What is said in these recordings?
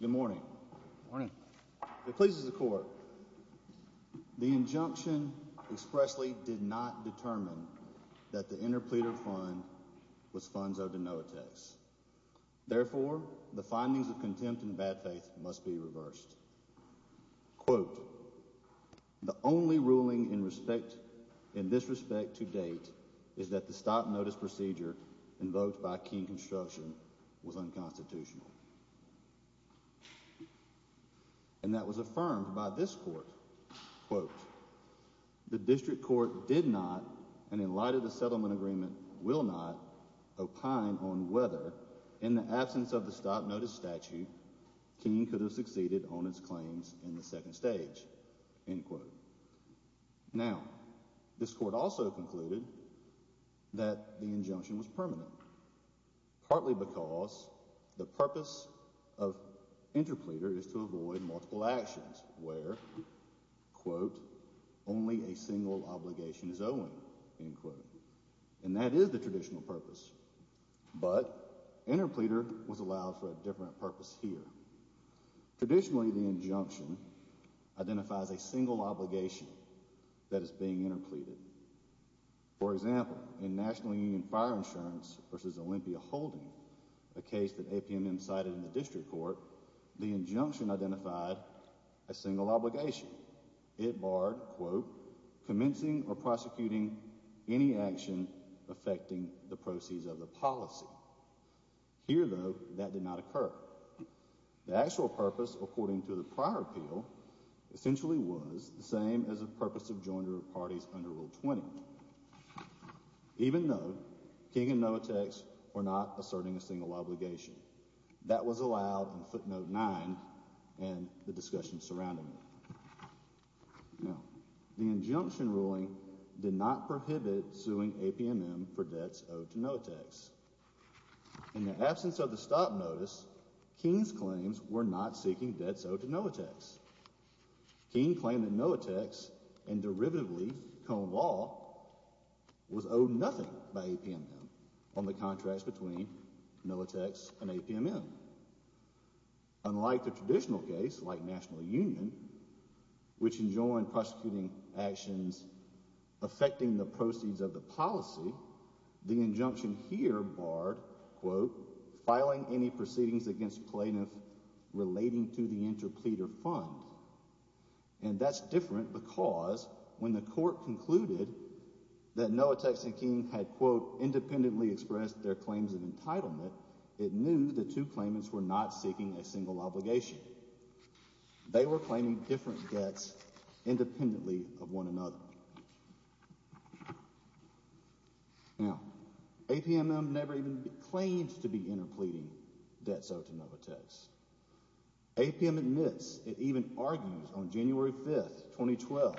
Good morning. Good morning. It pleases the court. The injunction expressly did not determine that the interpleader fund was funds owed to no attacks. Therefore, the findings of contempt and bad faith must be reversed. Quote, The only ruling in respect, in this respect to date, is that the stop notice procedure invoked by King Construction was unconstitutional. And that was affirmed by this court. Quote, The district court did not, and in light of the settlement agreement will not, opine on whether, in the absence of the stop notice statute, King could have succeeded on its claims in the second stage. End quote. Now, this court also concluded that the injunction was permanent, partly because the purpose of interpleader is to avoid multiple actions where, quote, only a single obligation is owing. End quote. And that is the traditional purpose. But interpleader was allowed for a different purpose here. Traditionally, the injunction identifies a single obligation that is being interpleaded. For example, in National Union Fire Insurance versus Olympia Holding, a case that APMM cited in the district court, the injunction identified a single obligation. It barred, quote, commencing or prosecuting any action affecting the proceeds of the policy. Here, though, that did not occur. The actual purpose, according to the prior appeal, essentially was the same as the purpose of joiner parties under Rule 20, even though King and Noatex were not asserting a single obligation. That was allowed in footnote 9 and the discussion surrounding it. Now, the injunction ruling did not prohibit suing APMM for debts owed to Noatex. In the absence of the stop notice, King's claims were not seeking debts owed to Noatex. King claimed that Noatex and derivatively Cone Law was owed nothing by APMM on the contracts between Noatex and APMM. Unlike the traditional case like National Union, which enjoined prosecuting actions affecting the proceeds of the policy, the injunction here barred, quote, filing any proceedings against plaintiffs relating to the interpleader fund. And that's different because when the court concluded that Noatex and King had, quote, independently expressed their claims of entitlement, it knew the two claimants were not seeking a single obligation. They were claiming different debts independently of one another. Now, APMM never even claimed to be interpleading debts owed to Noatex. APMM admits, it even argues on January 5, 2012,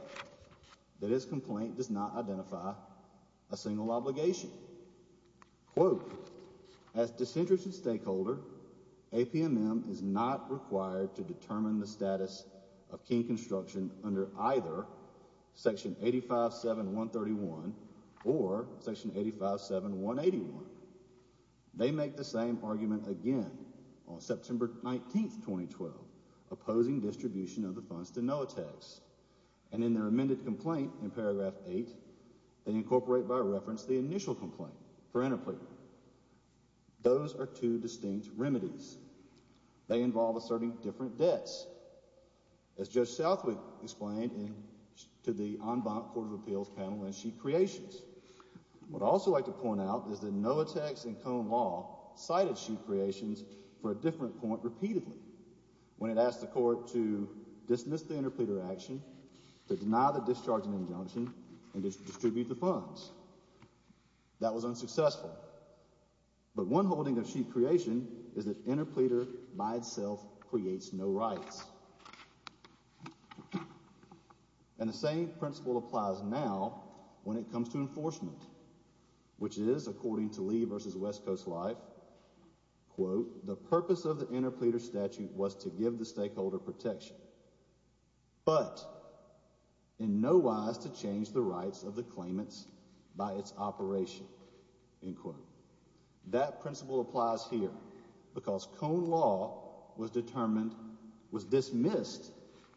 that its complaint does not identify a single obligation. Quote, as disinterested stakeholder, APMM is not required to determine the status of King Construction under either section 85-7-131 or section 85-7-181. They make the same argument again on September 19, 2012, opposing distribution of the funds to Noatex. And in their amended complaint in paragraph 8, they incorporate by reference the initial complaint for interpleader. Those are two distinct remedies. They involve asserting different debts, as Judge Southwick explained to the en banc Court of Appeals panel in Sheep Creations. What I'd also like to point out is that Noatex and Cone Law cited Sheep Creations for a different point repeatedly, when it asked the court to dismiss the interpleader action, to deny the discharging injunction, and to distribute the funds. That was unsuccessful. But one holding of Sheep Creation is that interpleader by itself creates no rights. And the same principle applies now when it comes to enforcement, which is, according to Lee v. West Coast Life, quote, the purpose of the interpleader statute was to give the stakeholder protection, but in no wise to change the rights of the claimants by its operation, end quote. That principle applies here, because Cone Law was determined, was dismissed,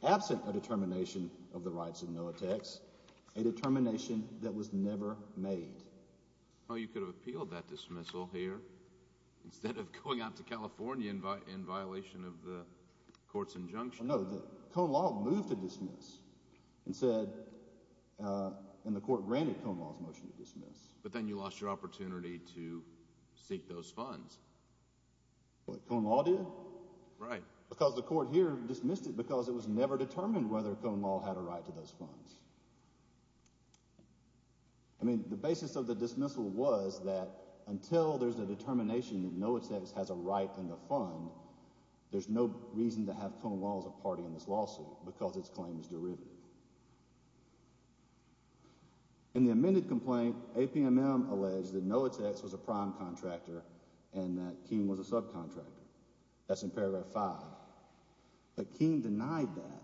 absent a determination of the rights of Noatex, a determination that was never made. Well, you could have appealed that dismissal here, instead of going out to California in violation of the court's injunction. No, Cone Law moved to dismiss and said, and the court granted Cone Law's motion to dismiss, but then you lost your opportunity to seek those funds. What, Cone Law did? Right. Because the court here dismissed it because it was never determined whether Cone Law had a right to those funds. I mean, the basis of the dismissal was that until there's a determination that Noatex has a right in the fund, there's no reason to have Cone Law as a party in this lawsuit, because its claim is derived. In the amended complaint, APMM alleged that Noatex was a prime contractor and that King was a subcontractor. That's in paragraph five. But King denied that.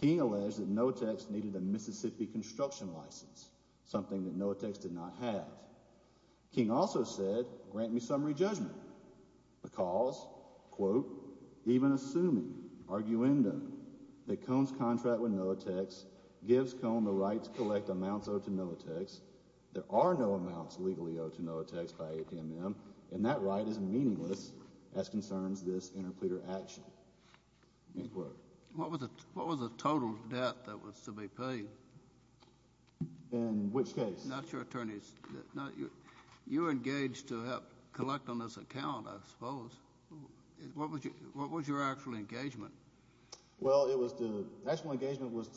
King alleged that Noatex needed a Mississippi construction license, something that Noatex did not have. King also said, grant me summary judgment, because, quote, even assuming, arguendo, that Cone's contract with Noatex gives Cone the right to collect amounts owed to Noatex, there are no amounts legally owed to Noatex by APMM, and that right is meaningless as concerns this interpleader action. End quote. What was the total debt that was to be paid? In which case? Not your attorney's. You were engaged to help collect on this account, I suppose. What was your actual engagement? Well, it was the, actual engagement was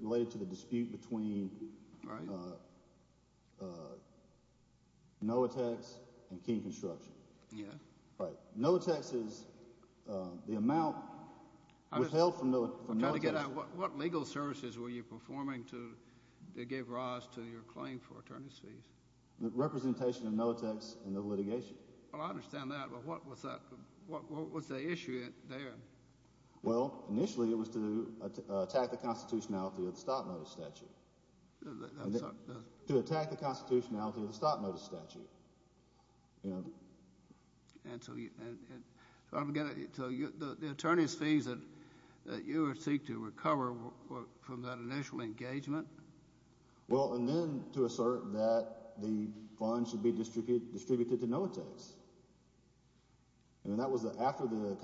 related to the dispute between Noatex and King Construction. Noatex is the amount withheld from Noatex. What legal services were you performing to give rise to your claim for attorney's fees? Representation of Noatex in the litigation. Well, I understand that, but what was that, what was the issue there? Well, initially it was to attack the constitutionality of the stop-notice statute. I'm sorry. To attack the constitutionality of the stop-notice statute, you know. And so you, and, so I'm going to, so you, the attorney's fees that you would seek to recover from that initial engagement? Well, and then to assert that the funds should be distributed to Noatex. And that was after the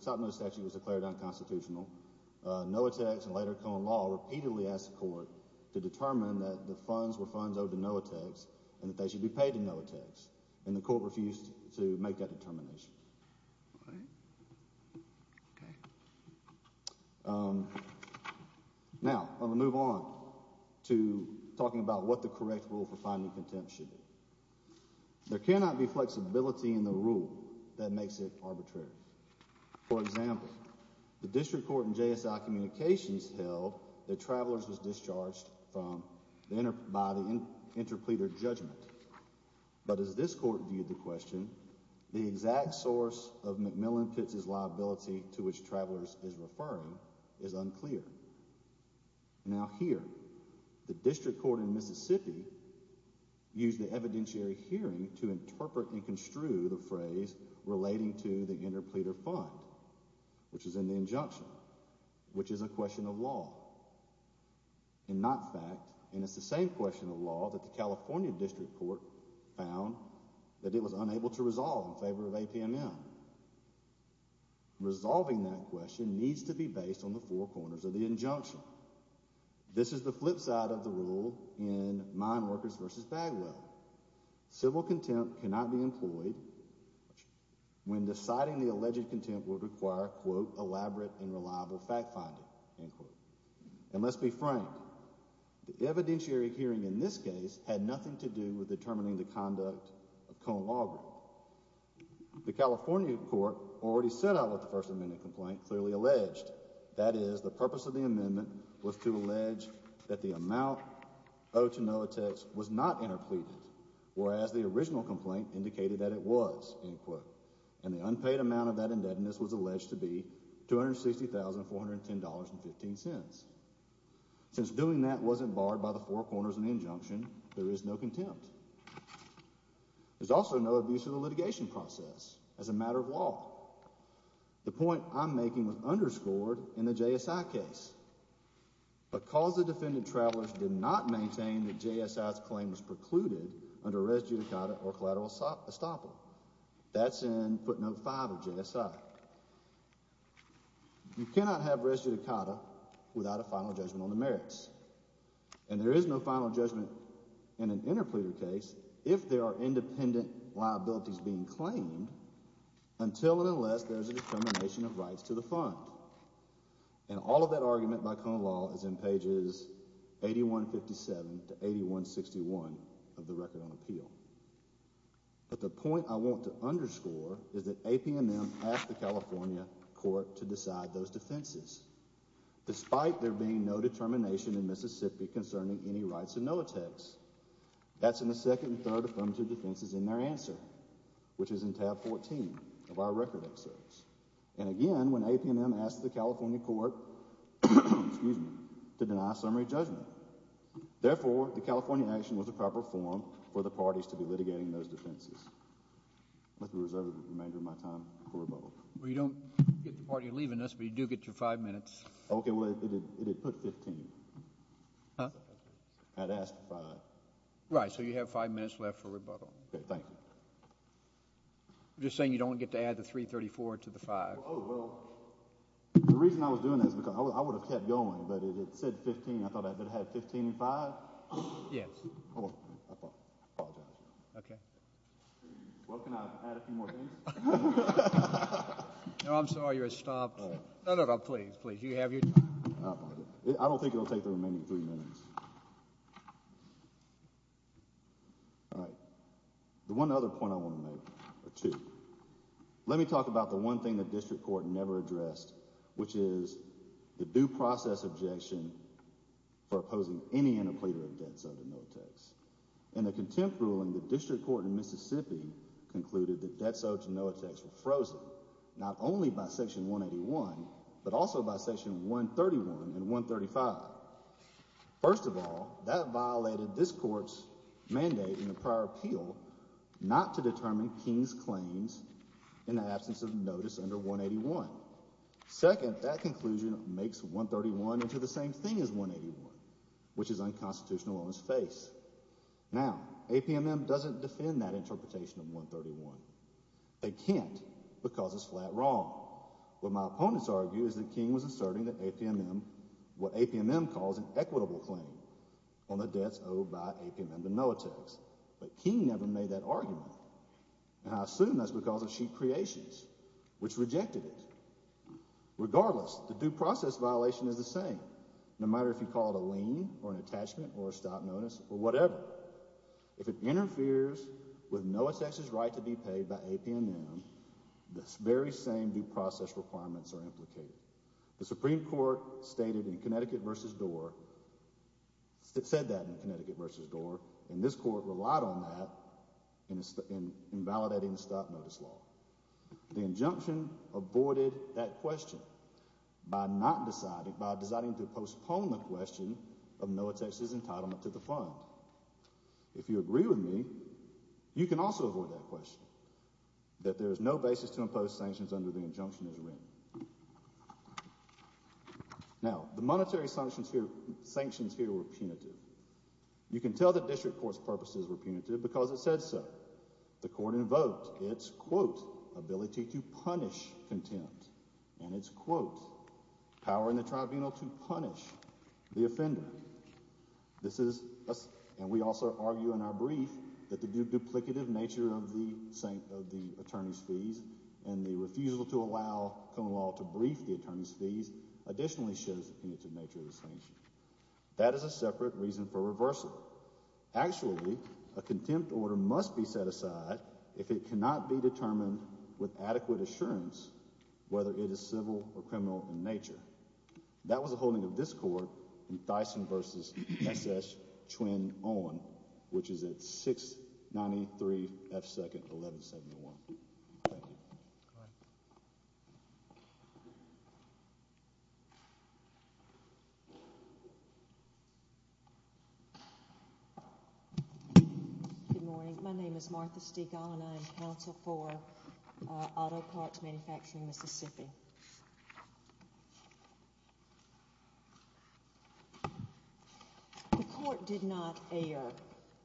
stop-notice statute was declared unconstitutional. Noatex and later Cohen Law repeatedly asked the court to determine that the funds were funds owed to Noatex and that they should be paid to Noatex. And the court refused to make that determination. All right. Okay. Now, I'm going to move on to talking about what the correct rule for finding contempt should be. There cannot be flexibility in the rule that makes it arbitrary. For example, the district court in JSI Communications held that Travelers was discharged from, by the interpleader judgment. But as this court viewed the question, the exact source of McMillan-Pitts' liability to which Travelers is referring is unclear. Now here, the district court in Mississippi used the evidentiary hearing to interpret and construe the phrase relating to the interpleader fund, which is in the injunction, which is a question of law and not fact. And it's the same question of law that the California district court found that it was solving that question needs to be based on the four corners of the injunction. This is the flip side of the rule in Mineworkers v. Bagwell. Civil contempt cannot be employed when deciding the alleged contempt would require, quote, elaborate and reliable fact-finding, end quote. And let's be frank, the evidentiary hearing in this case had nothing to do with determining the conduct of Cohen Law Group. The California court already set out what the First Amendment complaint clearly alleged. That is, the purpose of the amendment was to allege that the amount owed to Noatex was not interpleaded, whereas the original complaint indicated that it was, end quote. And the unpaid amount of that indebtedness was alleged to be $260,410.15. Since doing that wasn't barred by the four corners of the injunction, there is no contempt. There's also no abuse of the litigation process as a matter of law. The point I'm making was underscored in the JSI case. Because the defendant travelers did not maintain that JSI's claim was precluded under res judicata or collateral estoppel, that's in footnote 5 of JSI. You cannot have res judicata without a final judgment on the merits. And there is no final judgment in an interpleader case if there are independent liabilities being claimed until and unless there is a determination of rights to the fund. And all of that argument by Cohen Law is in pages 8157 to 8161 of the Record on Appeal. But the point I want to underscore is that APMM asked the California court to decide those defenses. Despite there being no determination in Mississippi concerning any rights and no attacks. That's in the second and third affirmative defenses in their answer, which is in tab 14 of our record excerpts. And again, when APMM asked the California court to deny summary judgment. Therefore, the California action was the proper form for the parties to be litigating those defenses. I'd like to reserve the remainder of my time for rebuttal. Well, you don't get the part you're leaving us, but you do get your 5 minutes. Okay, well, it did put 15. Huh? I had asked for 5. Right, so you have 5 minutes left for rebuttal. Okay, thank you. I'm just saying you don't get to add the 334 to the 5. Oh, well, the reason I was doing that is because I would have kept going, but it said 15. I thought I better have 15 and 5. Yes. I apologize. Okay. Well, can I add a few more things? No, I'm sorry. You're stopped. No, no, no. Please, please. You have your time. I don't think it'll take the remaining 3 minutes. All right. The one other point I want to make, or two. Let me talk about the one thing the district court never addressed, which is the due process objection for opposing any interpleader of debt so to no tax. In the contempt ruling, the district court in Mississippi concluded that debt so to no tax were frozen, not only by section 181, but also by section 131 and 135. First of all, that violated this court's mandate in the prior appeal not to determine King's claims in the absence of notice under 181. Second, that conclusion makes 131 into the same thing as 181, which is unconstitutional on its face. Now, APMM doesn't defend that interpretation of 131. They can't because it's flat wrong. What my opponents argue is that King was asserting that APMM, what APMM calls an equitable claim on the debts owed by APMM to no tax. But King never made that argument. And I assume that's because of sheet creations, which rejected it. Regardless, the due process violation is the same, no matter if you call it a lien or an stop-notice or whatever. If it interferes with no tax's right to be paid by APMM, the very same due process requirements are implicated. The Supreme Court stated in Connecticut v. Dorr, said that in Connecticut v. Dorr, and this court relied on that in validating the stop-notice law. The injunction aborted that question by not deciding, by deciding to postpone the question of no tax's entitlement to the fund. If you agree with me, you can also avoid that question, that there is no basis to impose sanctions under the injunction as written. Now, the monetary sanctions here were punitive. You can tell the district court's purposes were punitive because it said so. The court invoked its, quote, ability to punish contempt. And its, quote, power in the tribunal to punish the offender. This is, and we also argue in our brief, that the duplicative nature of the attorney's fees and the refusal to allow common law to brief the attorney's fees additionally shows the punitive nature of the sanctions. That is a separate reason for reversal. Actually, a contempt order must be set aside if it cannot be determined with adequate assurance whether it is civil or criminal in nature. That was the holding of this court in Thyssen v. S. S. Twin Owen, which is at 693 F. 2nd, 1171. Thank you. Good morning. My name is Martha Stigall and I am counsel for Auto Parts Manufacturing Mississippi. The court did not err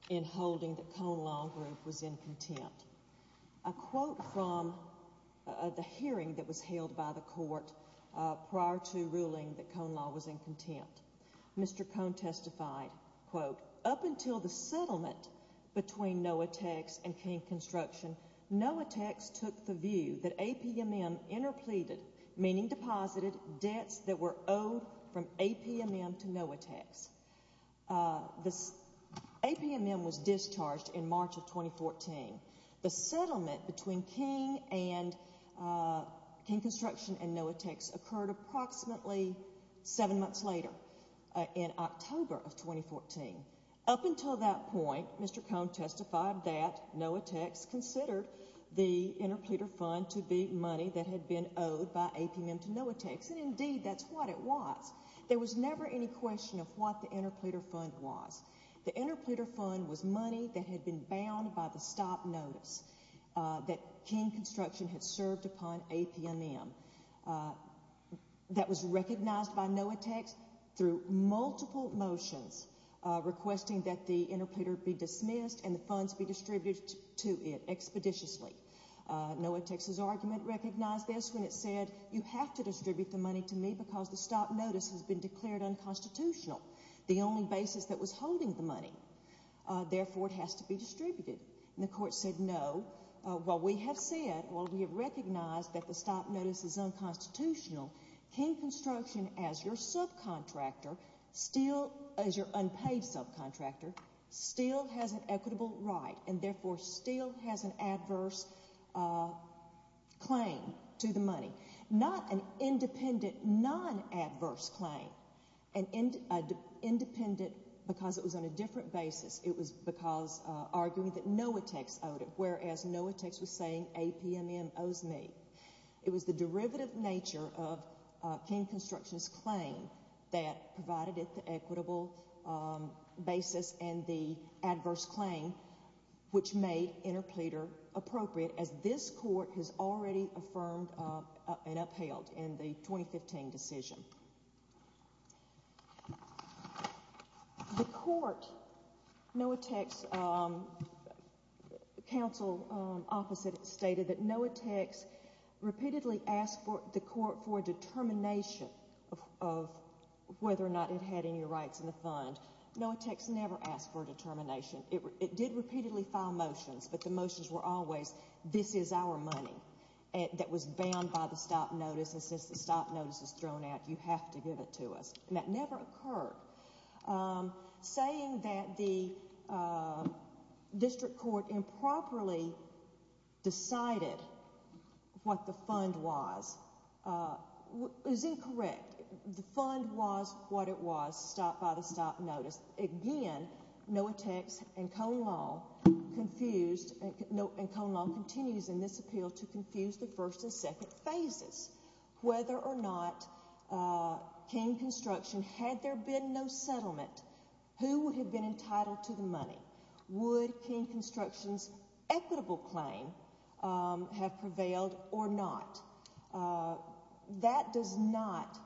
in holding that Cone Law Group was in contempt. A quote from the hearing that was held by the court prior to ruling that Cone Law was in contempt. Mr. Cone testified, quote, up until the settlement between Noatex and King Construction, Noatex took the view that APMM interpleaded, meaning deposited, debts that were owed from APMM to Noatex. APMM was discharged in March of 2014. The settlement between King Construction and Noatex occurred approximately seven months later, in October of 2014. Up until that point, Mr. Cone testified that Noatex considered the interpleader fund to be money that had been owed by APMM to Noatex, and indeed that's what it was. There was never any question of what the interpleader fund was. The interpleader fund was money that had been bound by the stop notice that King Construction had served upon APMM that was recognized by Noatex through multiple motions requesting that the interpleader be dismissed and the funds be distributed to it expeditiously. Noatex's argument recognized this when it said, you have to distribute the money to me because the stop notice has been declared unconstitutional. The only basis that was holding the money. Therefore, it has to be distributed. And the court said no. Well, we have said, well, we have recognized that the stop notice is unconstitutional. King Construction, as your subcontractor, still, as your unpaid subcontractor, still has an equitable right and therefore still has an adverse claim to the money. Not an independent, non-adverse claim. Independent because it was on a different basis. It was because arguing that Noatex owed it, whereas Noatex was saying APMM owes me. It was the derivative nature of King Construction's claim that provided it the equitable basis and the adverse claim which made interpleader appropriate as this court has already affirmed and upheld in the 2015 decision. The court, Noatex's counsel opposite stated that Noatex repeatedly asked the court for a determination of whether or not it had any rights in the fund. It did repeatedly file motions, but the motions were always, this is our money that was bound by the stop notice and since the stop notice is thrown out, you have to give it to us. And that never occurred. Saying that the district court improperly decided what the fund was is incorrect. The fund was what it was, stopped by the stop notice. Again, Noatex and Cone Law confused, and Cone Law continues in this appeal to confuse the first and second phases. Whether or not King Construction, had there been no settlement, who would have been entitled to the money? Would King Construction's equitable claim have prevailed or not? That does not,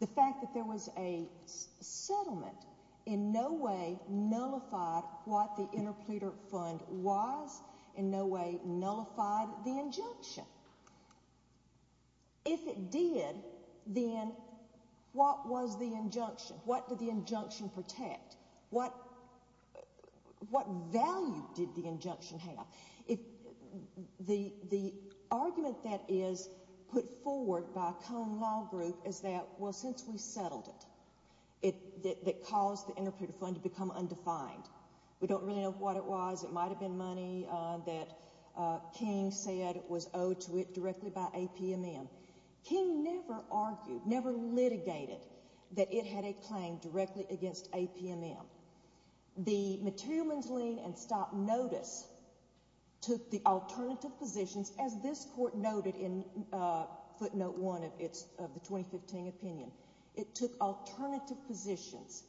the fact that there was a settlement in no way nullified what the interpleader fund was, in no way nullified the injunction. If it did, then what was the injunction? What did the injunction protect? What value did the injunction have? The argument that is put forward by Cone Law Group is that, well, since we settled it, it caused the interpleader fund to become undefined. We don't really know what it was. It might have been money that King said was owed to it directly by APMM. King never argued, never litigated that it had a claim directly against APMM. The materialman's lien and stop notice took the alternative positions as this court noted in footnote one of the 2015 opinion. It took alternative positions.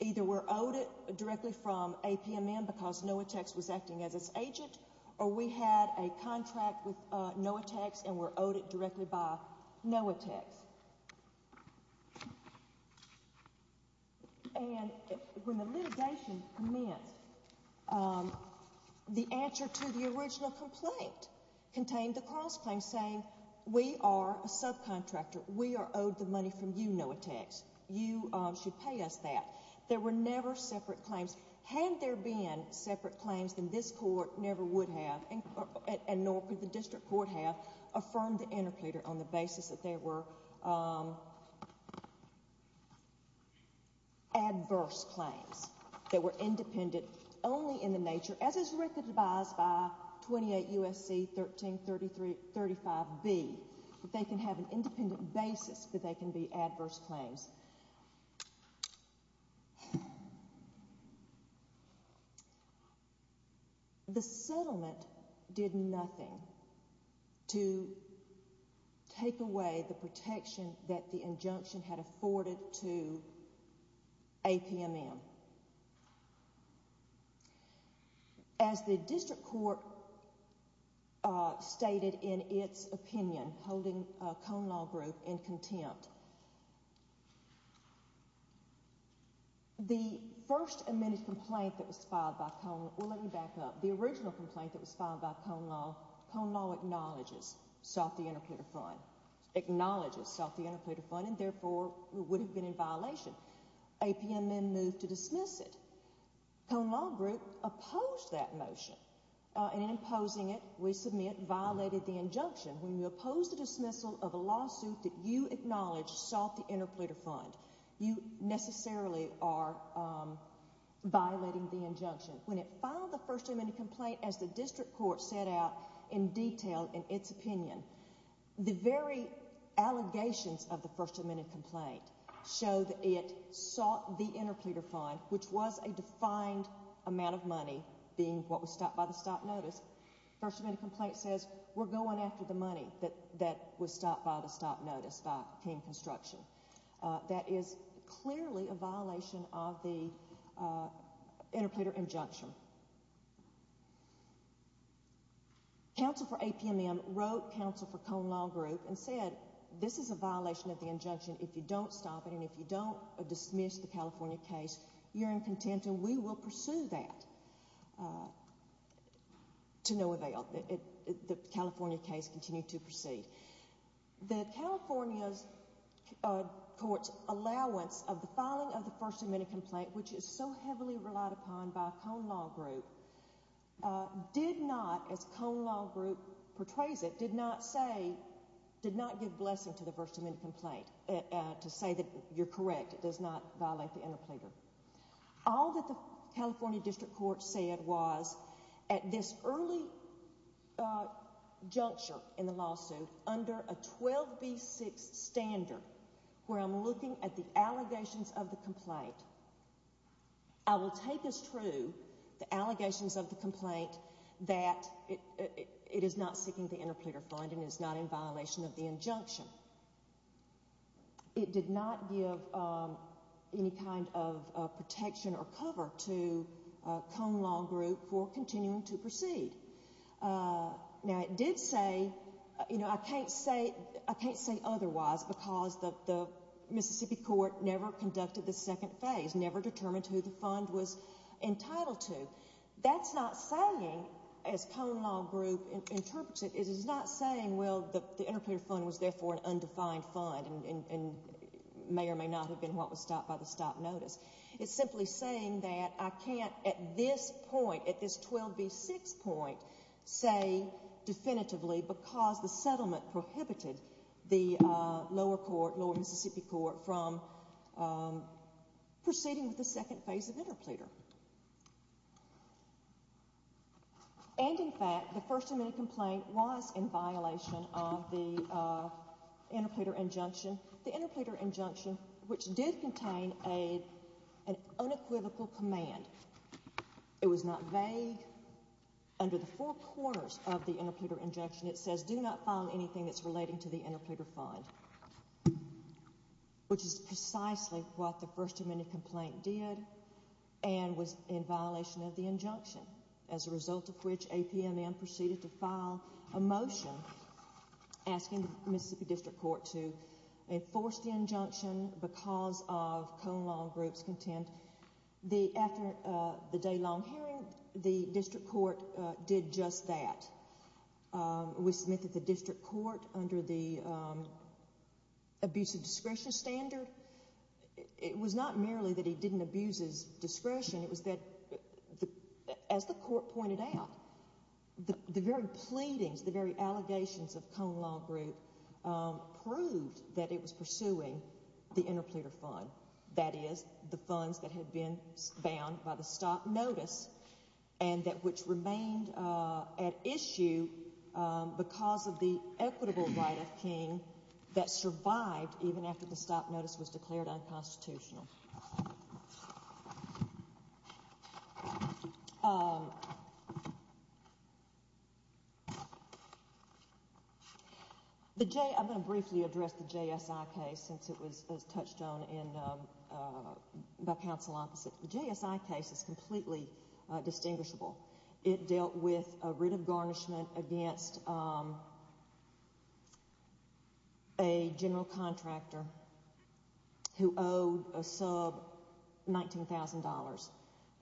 Either we're owed it directly from APMM because NOAA Techs was acting as its agent, or we had a contract with NOAA Techs and were owed it directly by NOAA Techs. When the litigation commenced, the answer to the original complaint contained the cross-claim saying, we are a subcontractor. We are owed the money from you, NOAA Techs. You should pay us that. There were never separate claims. Had there been separate claims, then this court never would have, and nor could the district court have, affirmed the interpleader on the basis that there were adverse claims that were independent only in the nature as is recognized by 28 U.S.C. 1335B that they can have an independent basis that they can be adverse claims. The settlement did nothing to take away the protection that the injunction had afforded to APMM. As the district court stated in its opinion, holding Cone Law Group in contempt, the first amended complaint that was filed by Cone, well let me back up, the original complaint that was filed by Cone Law, Cone Law acknowledges, sought the interpleader fund, acknowledges sought the interpleader fund and therefore would have been in violation. APMM moved to dismiss it. Cone Law Group opposed that motion, and in opposing it, we submit, violated the injunction. When you oppose the dismissal of a lawsuit that you acknowledge sought the interpleader fund, you necessarily are violating the injunction. When it filed the first amended complaint as the district court set out in detail in its opinion, the very allegations of the first amended complaint showed that it sought the interpleader fund, which was a defined amount of money, being what was stopped by the stop notice. The first amended complaint says we're going after the money that was stopped by the stop notice by King Construction. That is clearly a violation of the interpleader injunction. Council for APMM wrote Council for Cone Law Group and said this is a violation of the injunction. If you don't stop it and if you don't dismiss the California case, you're in contempt and we will pursue that to no avail. The California case continued to proceed. The California court's allowance of the filing of the first amended complaint, which is so heavily relied upon by Cone Law Group, did not, as Cone Law Group portrays it, did not give blessing to the first amended complaint to say that you're correct. It does not violate the interpleader. All that the California district court said was at this early juncture in the lawsuit, under a 12B6 standard where I'm looking at the allegations of the complaint, I will take as true the allegations of the complaint that it is not seeking the interpleader fund and is not in violation of the injunction. It did not give any kind of protection or cover to Cone Law Group for continuing to proceed. Now it did say, you know, I can't say otherwise because the Mississippi court never conducted the second phase, never determined who the fund was entitled to. That's not saying, as Cone Law Group interprets it, it is not saying, well, the interpleader fund was therefore an undefined fund and may or may not have been what was stopped by the stop notice. It's simply saying that I can't at this point, at this 12B6 point, say definitively because the settlement prohibited the lower court, the lower court from proceeding with the second phase of interpleader. And in fact, the first amendment complaint was in violation of the interpleader injunction. The interpleader injunction, which did contain an unequivocal command. It was not vague. Under the four corners of the interpleader injunction, it says, do not file anything that's relating to the interpleader fund. Which is precisely what the first amendment complaint did and was in violation of the injunction. As a result of which, APNN proceeded to file a motion asking the Mississippi District Court to enforce the injunction because of Cone Law Group's content. After the day-long hearing, the District Court did just that. We submitted to the District Court under the abuse of discretion standard. It was not merely that he didn't abuse his discretion. It was that, as the court pointed out, the very pleadings, the very allegations of Cone Law Group proved that it was pursuing the interpleader fund. That is, the funds that had been bound by the stop notice and which remained at issue because of the that survived even after the stop notice was declared unconstitutional. I'm going to briefly address the JSI case since it was touched on by counsel opposite. The JSI case is completely distinguishable. It dealt with a writ of garnishment against a general contractor who owed a sub $19,000.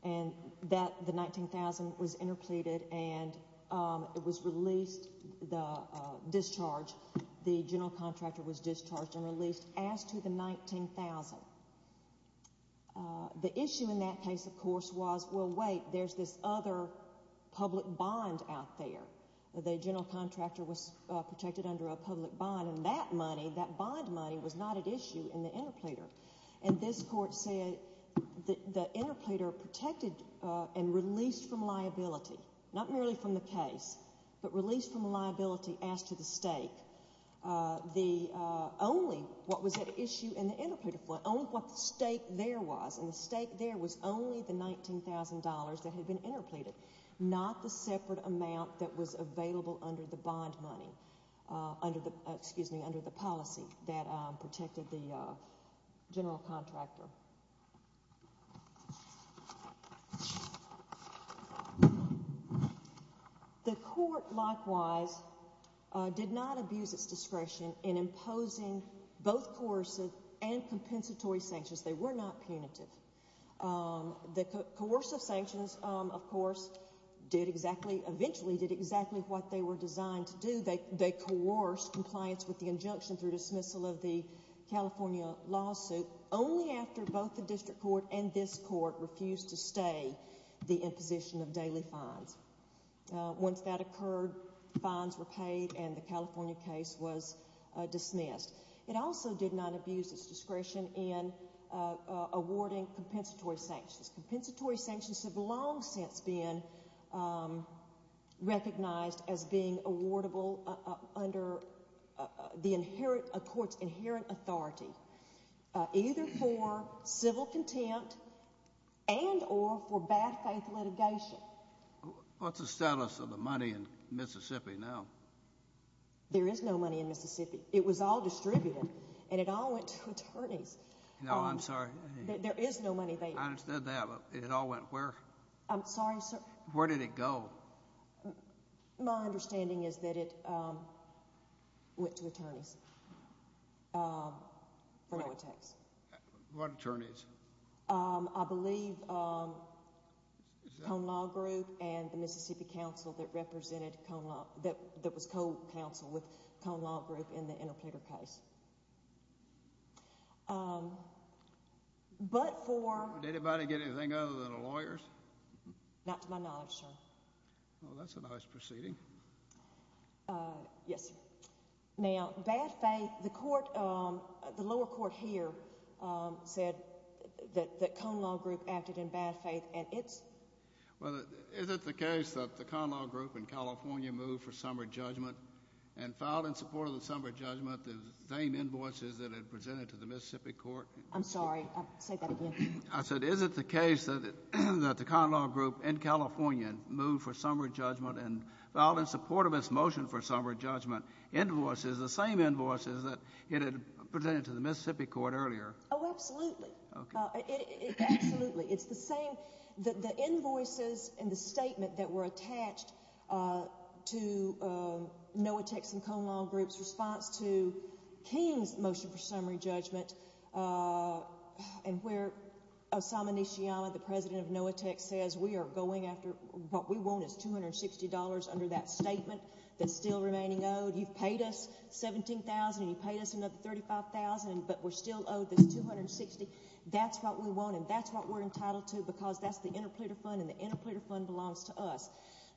The $19,000 was interpleaded and it was released. The discharge, the general contractor was discharged and released as to the $19,000. The issue in that case, of course, was well, wait, there's this other public bond out there. The general contractor was discharged. The bond money, that bond money, was not at issue in the interpleader. This court said the interpleader protected and released from liability, not merely from the case, but released from liability as to the stake. Only what was at issue in the interpleader fund, only what the stake there was, and the stake there was only the $19,000 that had been interpleaded, not the separate amount that was available under the bond money, excuse me, under the policy that protected the general contractor. The court likewise did not abuse its discretion in imposing both coercive and compensatory sanctions. They were not punitive. The coercive sanctions, of course, eventually did exactly what they were designed to do. They coerced compliance with the injunction through dismissal of the California lawsuit only after both the district court and this court refused to stay the imposition of daily fines. Once that occurred, fines were paid and the California case was dismissed. It also did not abuse its discretion in awarding compensatory sanctions. Compensatory sanctions have long since been recognized as being awardable under the court's inherent authority, either for civil contempt and or for bad faith litigation. What's the status of the money There is no money in Mississippi. It was all distributed and it all went to attorneys. No, I'm sorry. There is no money there. It all went where? Where did it go? My understanding is that it went to attorneys for no attacks. What attorneys? I believe Cone Law Group and the Mississippi Council that represented that was co-counsel with Cone Law Group in the Interpreter case. But for Did anybody get anything other than a lawyer? Not to my knowledge, sir. Well, that's a nice proceeding. Yes, sir. Now, bad faith, the lower court here said that Cone Law Group acted in bad faith and it's Is it the case that the Cone Law Group in California moved for summary judgment and filed in support of the summary judgment the same invoices that it presented to the Mississippi Court? I'm sorry. Say that again. Is it the case that the Cone Law Group in California moved for summary judgment and filed in support of its motion for summary judgment invoices, the same invoices that it had presented to the Mississippi Court earlier? Oh, absolutely. Absolutely. It's the same that the invoices in the statement that were attached to no attacks in Cone Law Group's response to King's motion for summary judgment and where Osamu Nishiyama, the president of NOAA Tech, says we are going after what we want is $260 under that statement that's still remaining owed. You've paid us $17,000 and you've paid us another $35,000 but we're still owed this $260. That's what we want and that's what we're entitled to because that's the interpleader fund and the interpleader fund belongs to us.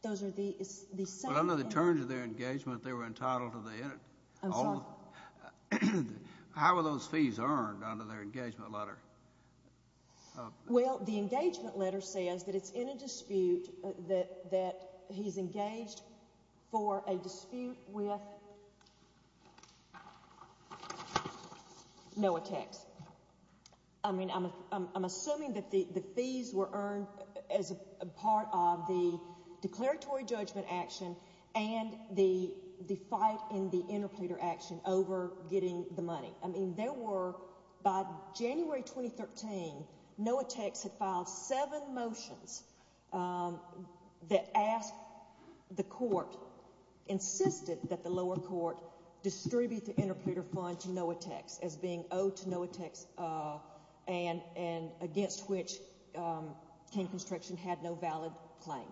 Those are the Well, under the terms of their engagement they were entitled to the I'm sorry? How were those fees earned under their engagement letter? Well, the engagement letter says that it's in a dispute that he's engaged for a dispute with NOAA Tech. I mean, I'm assuming that the fees were earned as a part of the declaratory judgment action and the fight in the interpleader action over getting the money. By January 2013, NOAA Tech had filed seven motions that asked the court insisted that the lower court distribute the interpleader fund to NOAA Tech as being owed to NOAA Tech and against which King Construction had no valid claim.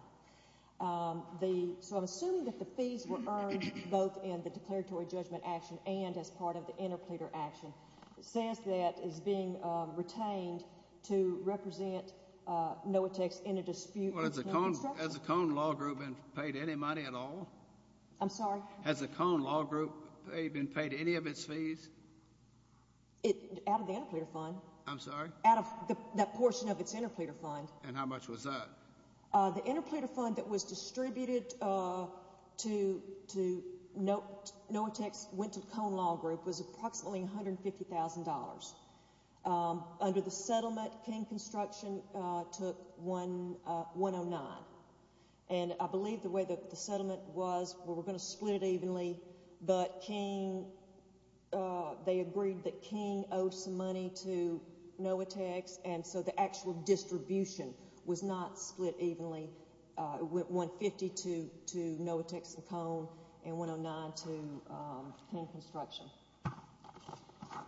So I'm assuming that the fees were earned both in the declaratory judgment action and as part of the interpleader action says that it's being retained to represent NOAA Tech's interdispute Well, has the Cone Law Group been paid any money at all? I'm sorry? Has the Cone Law Group been paid any of its fees? Out of the interpleader fund. I'm sorry? Out of that portion of its interpleader fund. And how much was that? The interpleader fund that was distributed to NOAA Tech's Cone Law Group was approximately $150,000. Under the settlement, King Construction took $109,000. I believe the way the settlement was we're going to split it evenly but King they agreed that King owed some money to NOAA Tech and so the actual distribution was not split evenly $150,000 to NOAA Tech's and Cone and $109,000 to King Construction.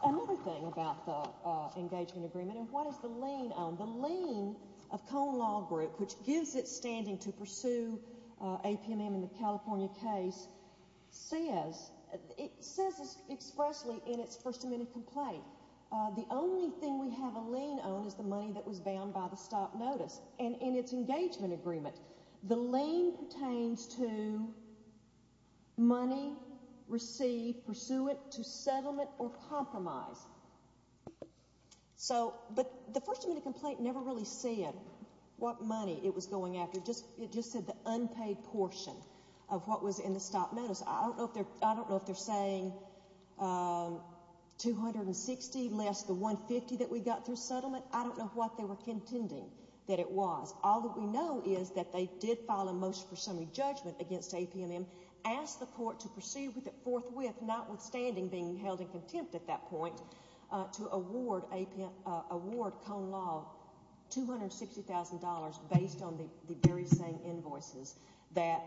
Another thing about the engagement agreement and what does the lien own? The lien of Cone Law Group which gives it standing to pursue APMM in the California case says it says this expressly in its First Amendment complaint the only thing we have a lien own is the money that was bound by the stop notice and in its engagement agreement the lien pertains to money received pursuant to settlement or compromise. But the First Amendment complaint never really said what money it was going after. It just said the unpaid portion of what was in the stop notice. I don't know if they're saying $260,000 less the $150,000 that we got through settlement. I don't know what they were contending that it was. All that we know is that they did file a motion for summary judgment against APMM asked the court to proceed with it forthwith notwithstanding being held in contempt at that point to award Cone Law $260,000 based on the very same invoices that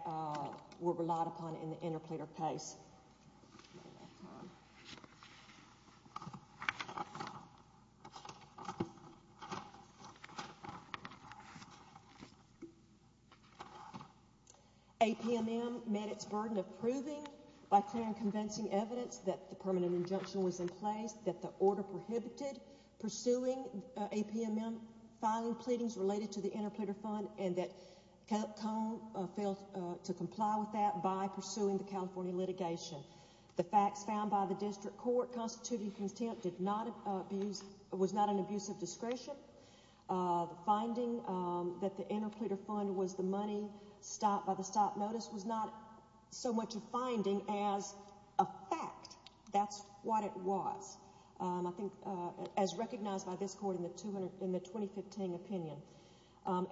were relied upon in the interpleader case. APMM APMM met its burden of proving by clear and convincing evidence that the permanent injunction was in place, that the order prohibited pursuing APMM filing pleadings related to the interpleader fund and that Cone failed to comply with that by pursuing the California litigation The facts found by the District Court constituting contempt was not an abuse of discretion finding that the interpleader fund was the money stopped by the stop notice was not so much a finding as a fact. That's what it was. I think as recognized by this court in the 2015 opinion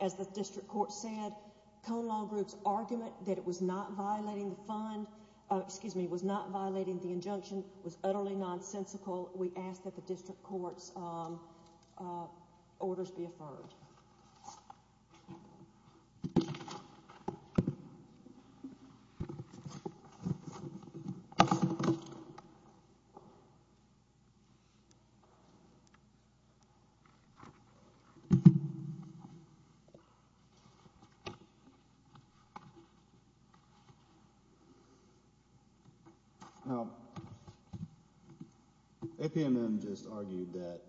as the District Court said Cone Law Group's argument that it was not violating the fund excuse me, was not violating the injunction was utterly nonsensical we ask that the District Court's orders be affirmed Now APMM just argued that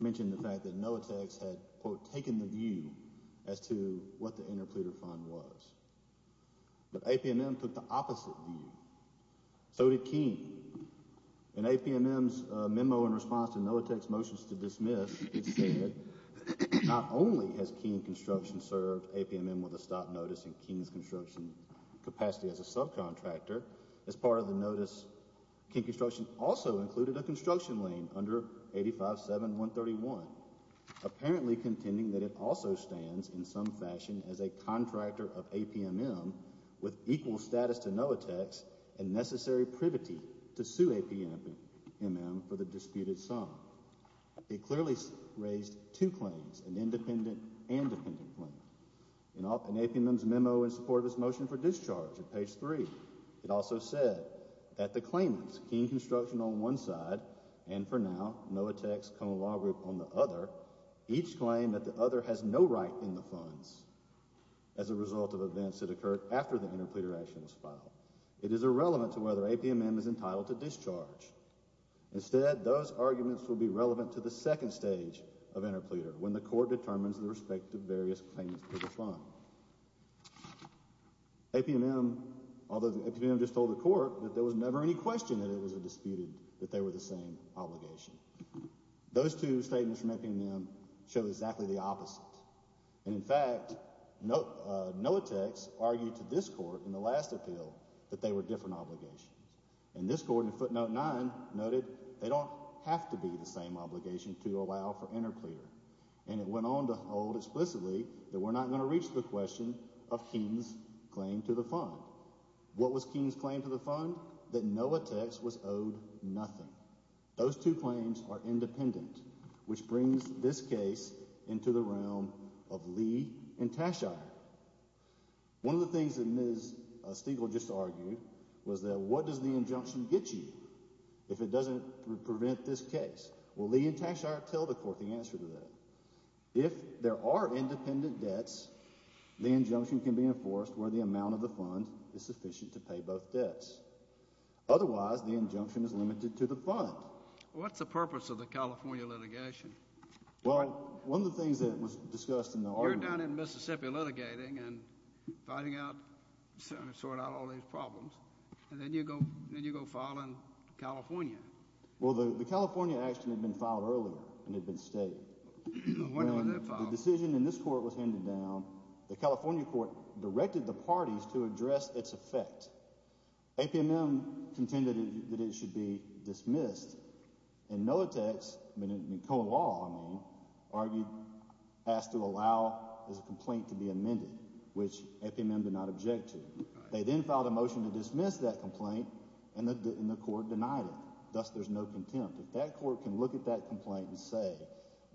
mentioned the fact that NOVATEX had quote taken the view as to what the interpleader fund was. But APMM took the opposite view so did KEEN In APMM's memo in response to NOVATEX's motions to dismiss it said not only has KEEN Construction served APMM with a stop notice in KEEN's construction capacity as a subcontractor as part of the notice KEEN Construction also included a construction lien under 85-7-131 apparently contending that it also stands in some fashion as a contractor of APMM with equal status to NOVATEX and necessary privity to sue APMM for the disputed sum. It clearly raised two claims an independent and dependent claim In APMM's memo in support of its motion for discharge at page 3 it also said that the claimants KEEN Construction on one side and for now NOVATEX common law group on the other each claim that the other has no right in the funds as a result of events that occurred after the interpleader action was filed. It is irrelevant to whether APMM is entitled to discharge instead those arguments will be relevant to the second stage of interpleader when the court determines the respective various claims for the fund APMM although APMM just told the court that there was never any question that it was a disputed that they were the same obligation those two statements from APMM show exactly the opposite and in fact NOVATEX argued to this court in the last appeal that they were different obligations and this court in footnote 9 noted they don't have to be the same obligation to allow for interpleader and it went on to hold explicitly that we're not going to reach the question of KEEN's claim to the fund what was KEEN's claim to the fund? that NOVATEX was owed nothing those two claims are independent which brings this case into the realm of Lee and Tashire one of the things that Ms. Stegall just argued was that what does the injunction get you if it doesn't prevent this case well Lee and Tashire tell the court the answer to that if there are independent debts the injunction can be enforced where the amount of the fund is sufficient to pay both debts otherwise the injunction is limited to the fund what's the purpose of the California litigation? well one of the things that was discussed in the argument you're down in Mississippi litigating and fighting out trying to sort out all these problems and then you go file in California well the California action had been filed earlier and had been stated when the decision in this court was handed down the California court directed the parties to address its effect APMM contended that it should be dismissed and NOVATEX in co-law argued asked to allow this complaint to be amended which APMM did not object to they then filed a motion to dismiss that complaint and the court denied it, thus there's no contempt if that court can look at that complaint and say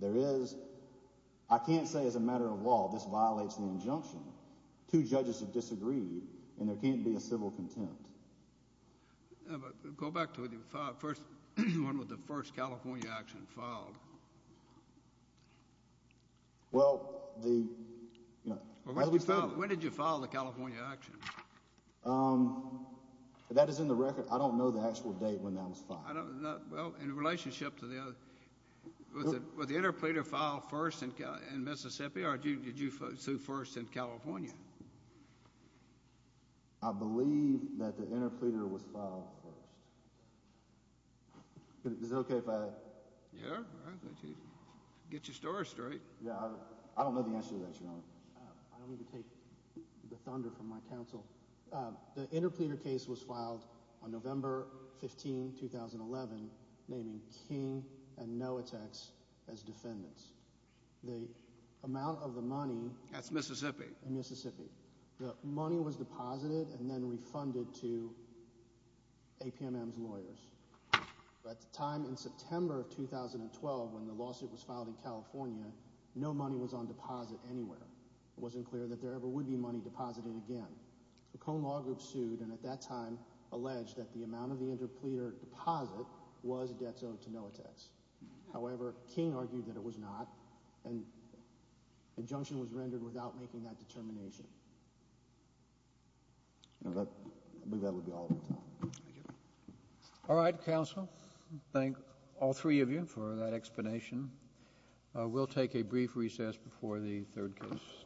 there is I can't say as a matter of law this violates the injunction two judges have disagreed and there can't be a civil contempt go back to the one with the first California action filed well the when did you file the California action um that is in the record I don't know the actual date when that was filed in relationship to the was the interpleader filed first in Mississippi or did you sue first in California I believe that the interpleader was filed first is it ok if I yeah alright get your story straight I don't know the answer to that your honor I don't need to take the thunder from my counsel the interpleader case was filed on November 15 2011 naming King and NOVATEX as defendants that's Mississippi the money was deposited and then refunded to APMM's lawyers at the time in September of 2012 when the lawsuit was filed in California no money was on deposit anywhere it wasn't clear that there ever would be money deposited again the cone law group sued and at that time alleged that the amount of the interpleader deposit was debt owed to NOVATEX however King argued that it was not and injunction was rendered without making that determination I believe that would be all thank you alright counsel thank all three of you for that explanation we'll take a brief recess before the third case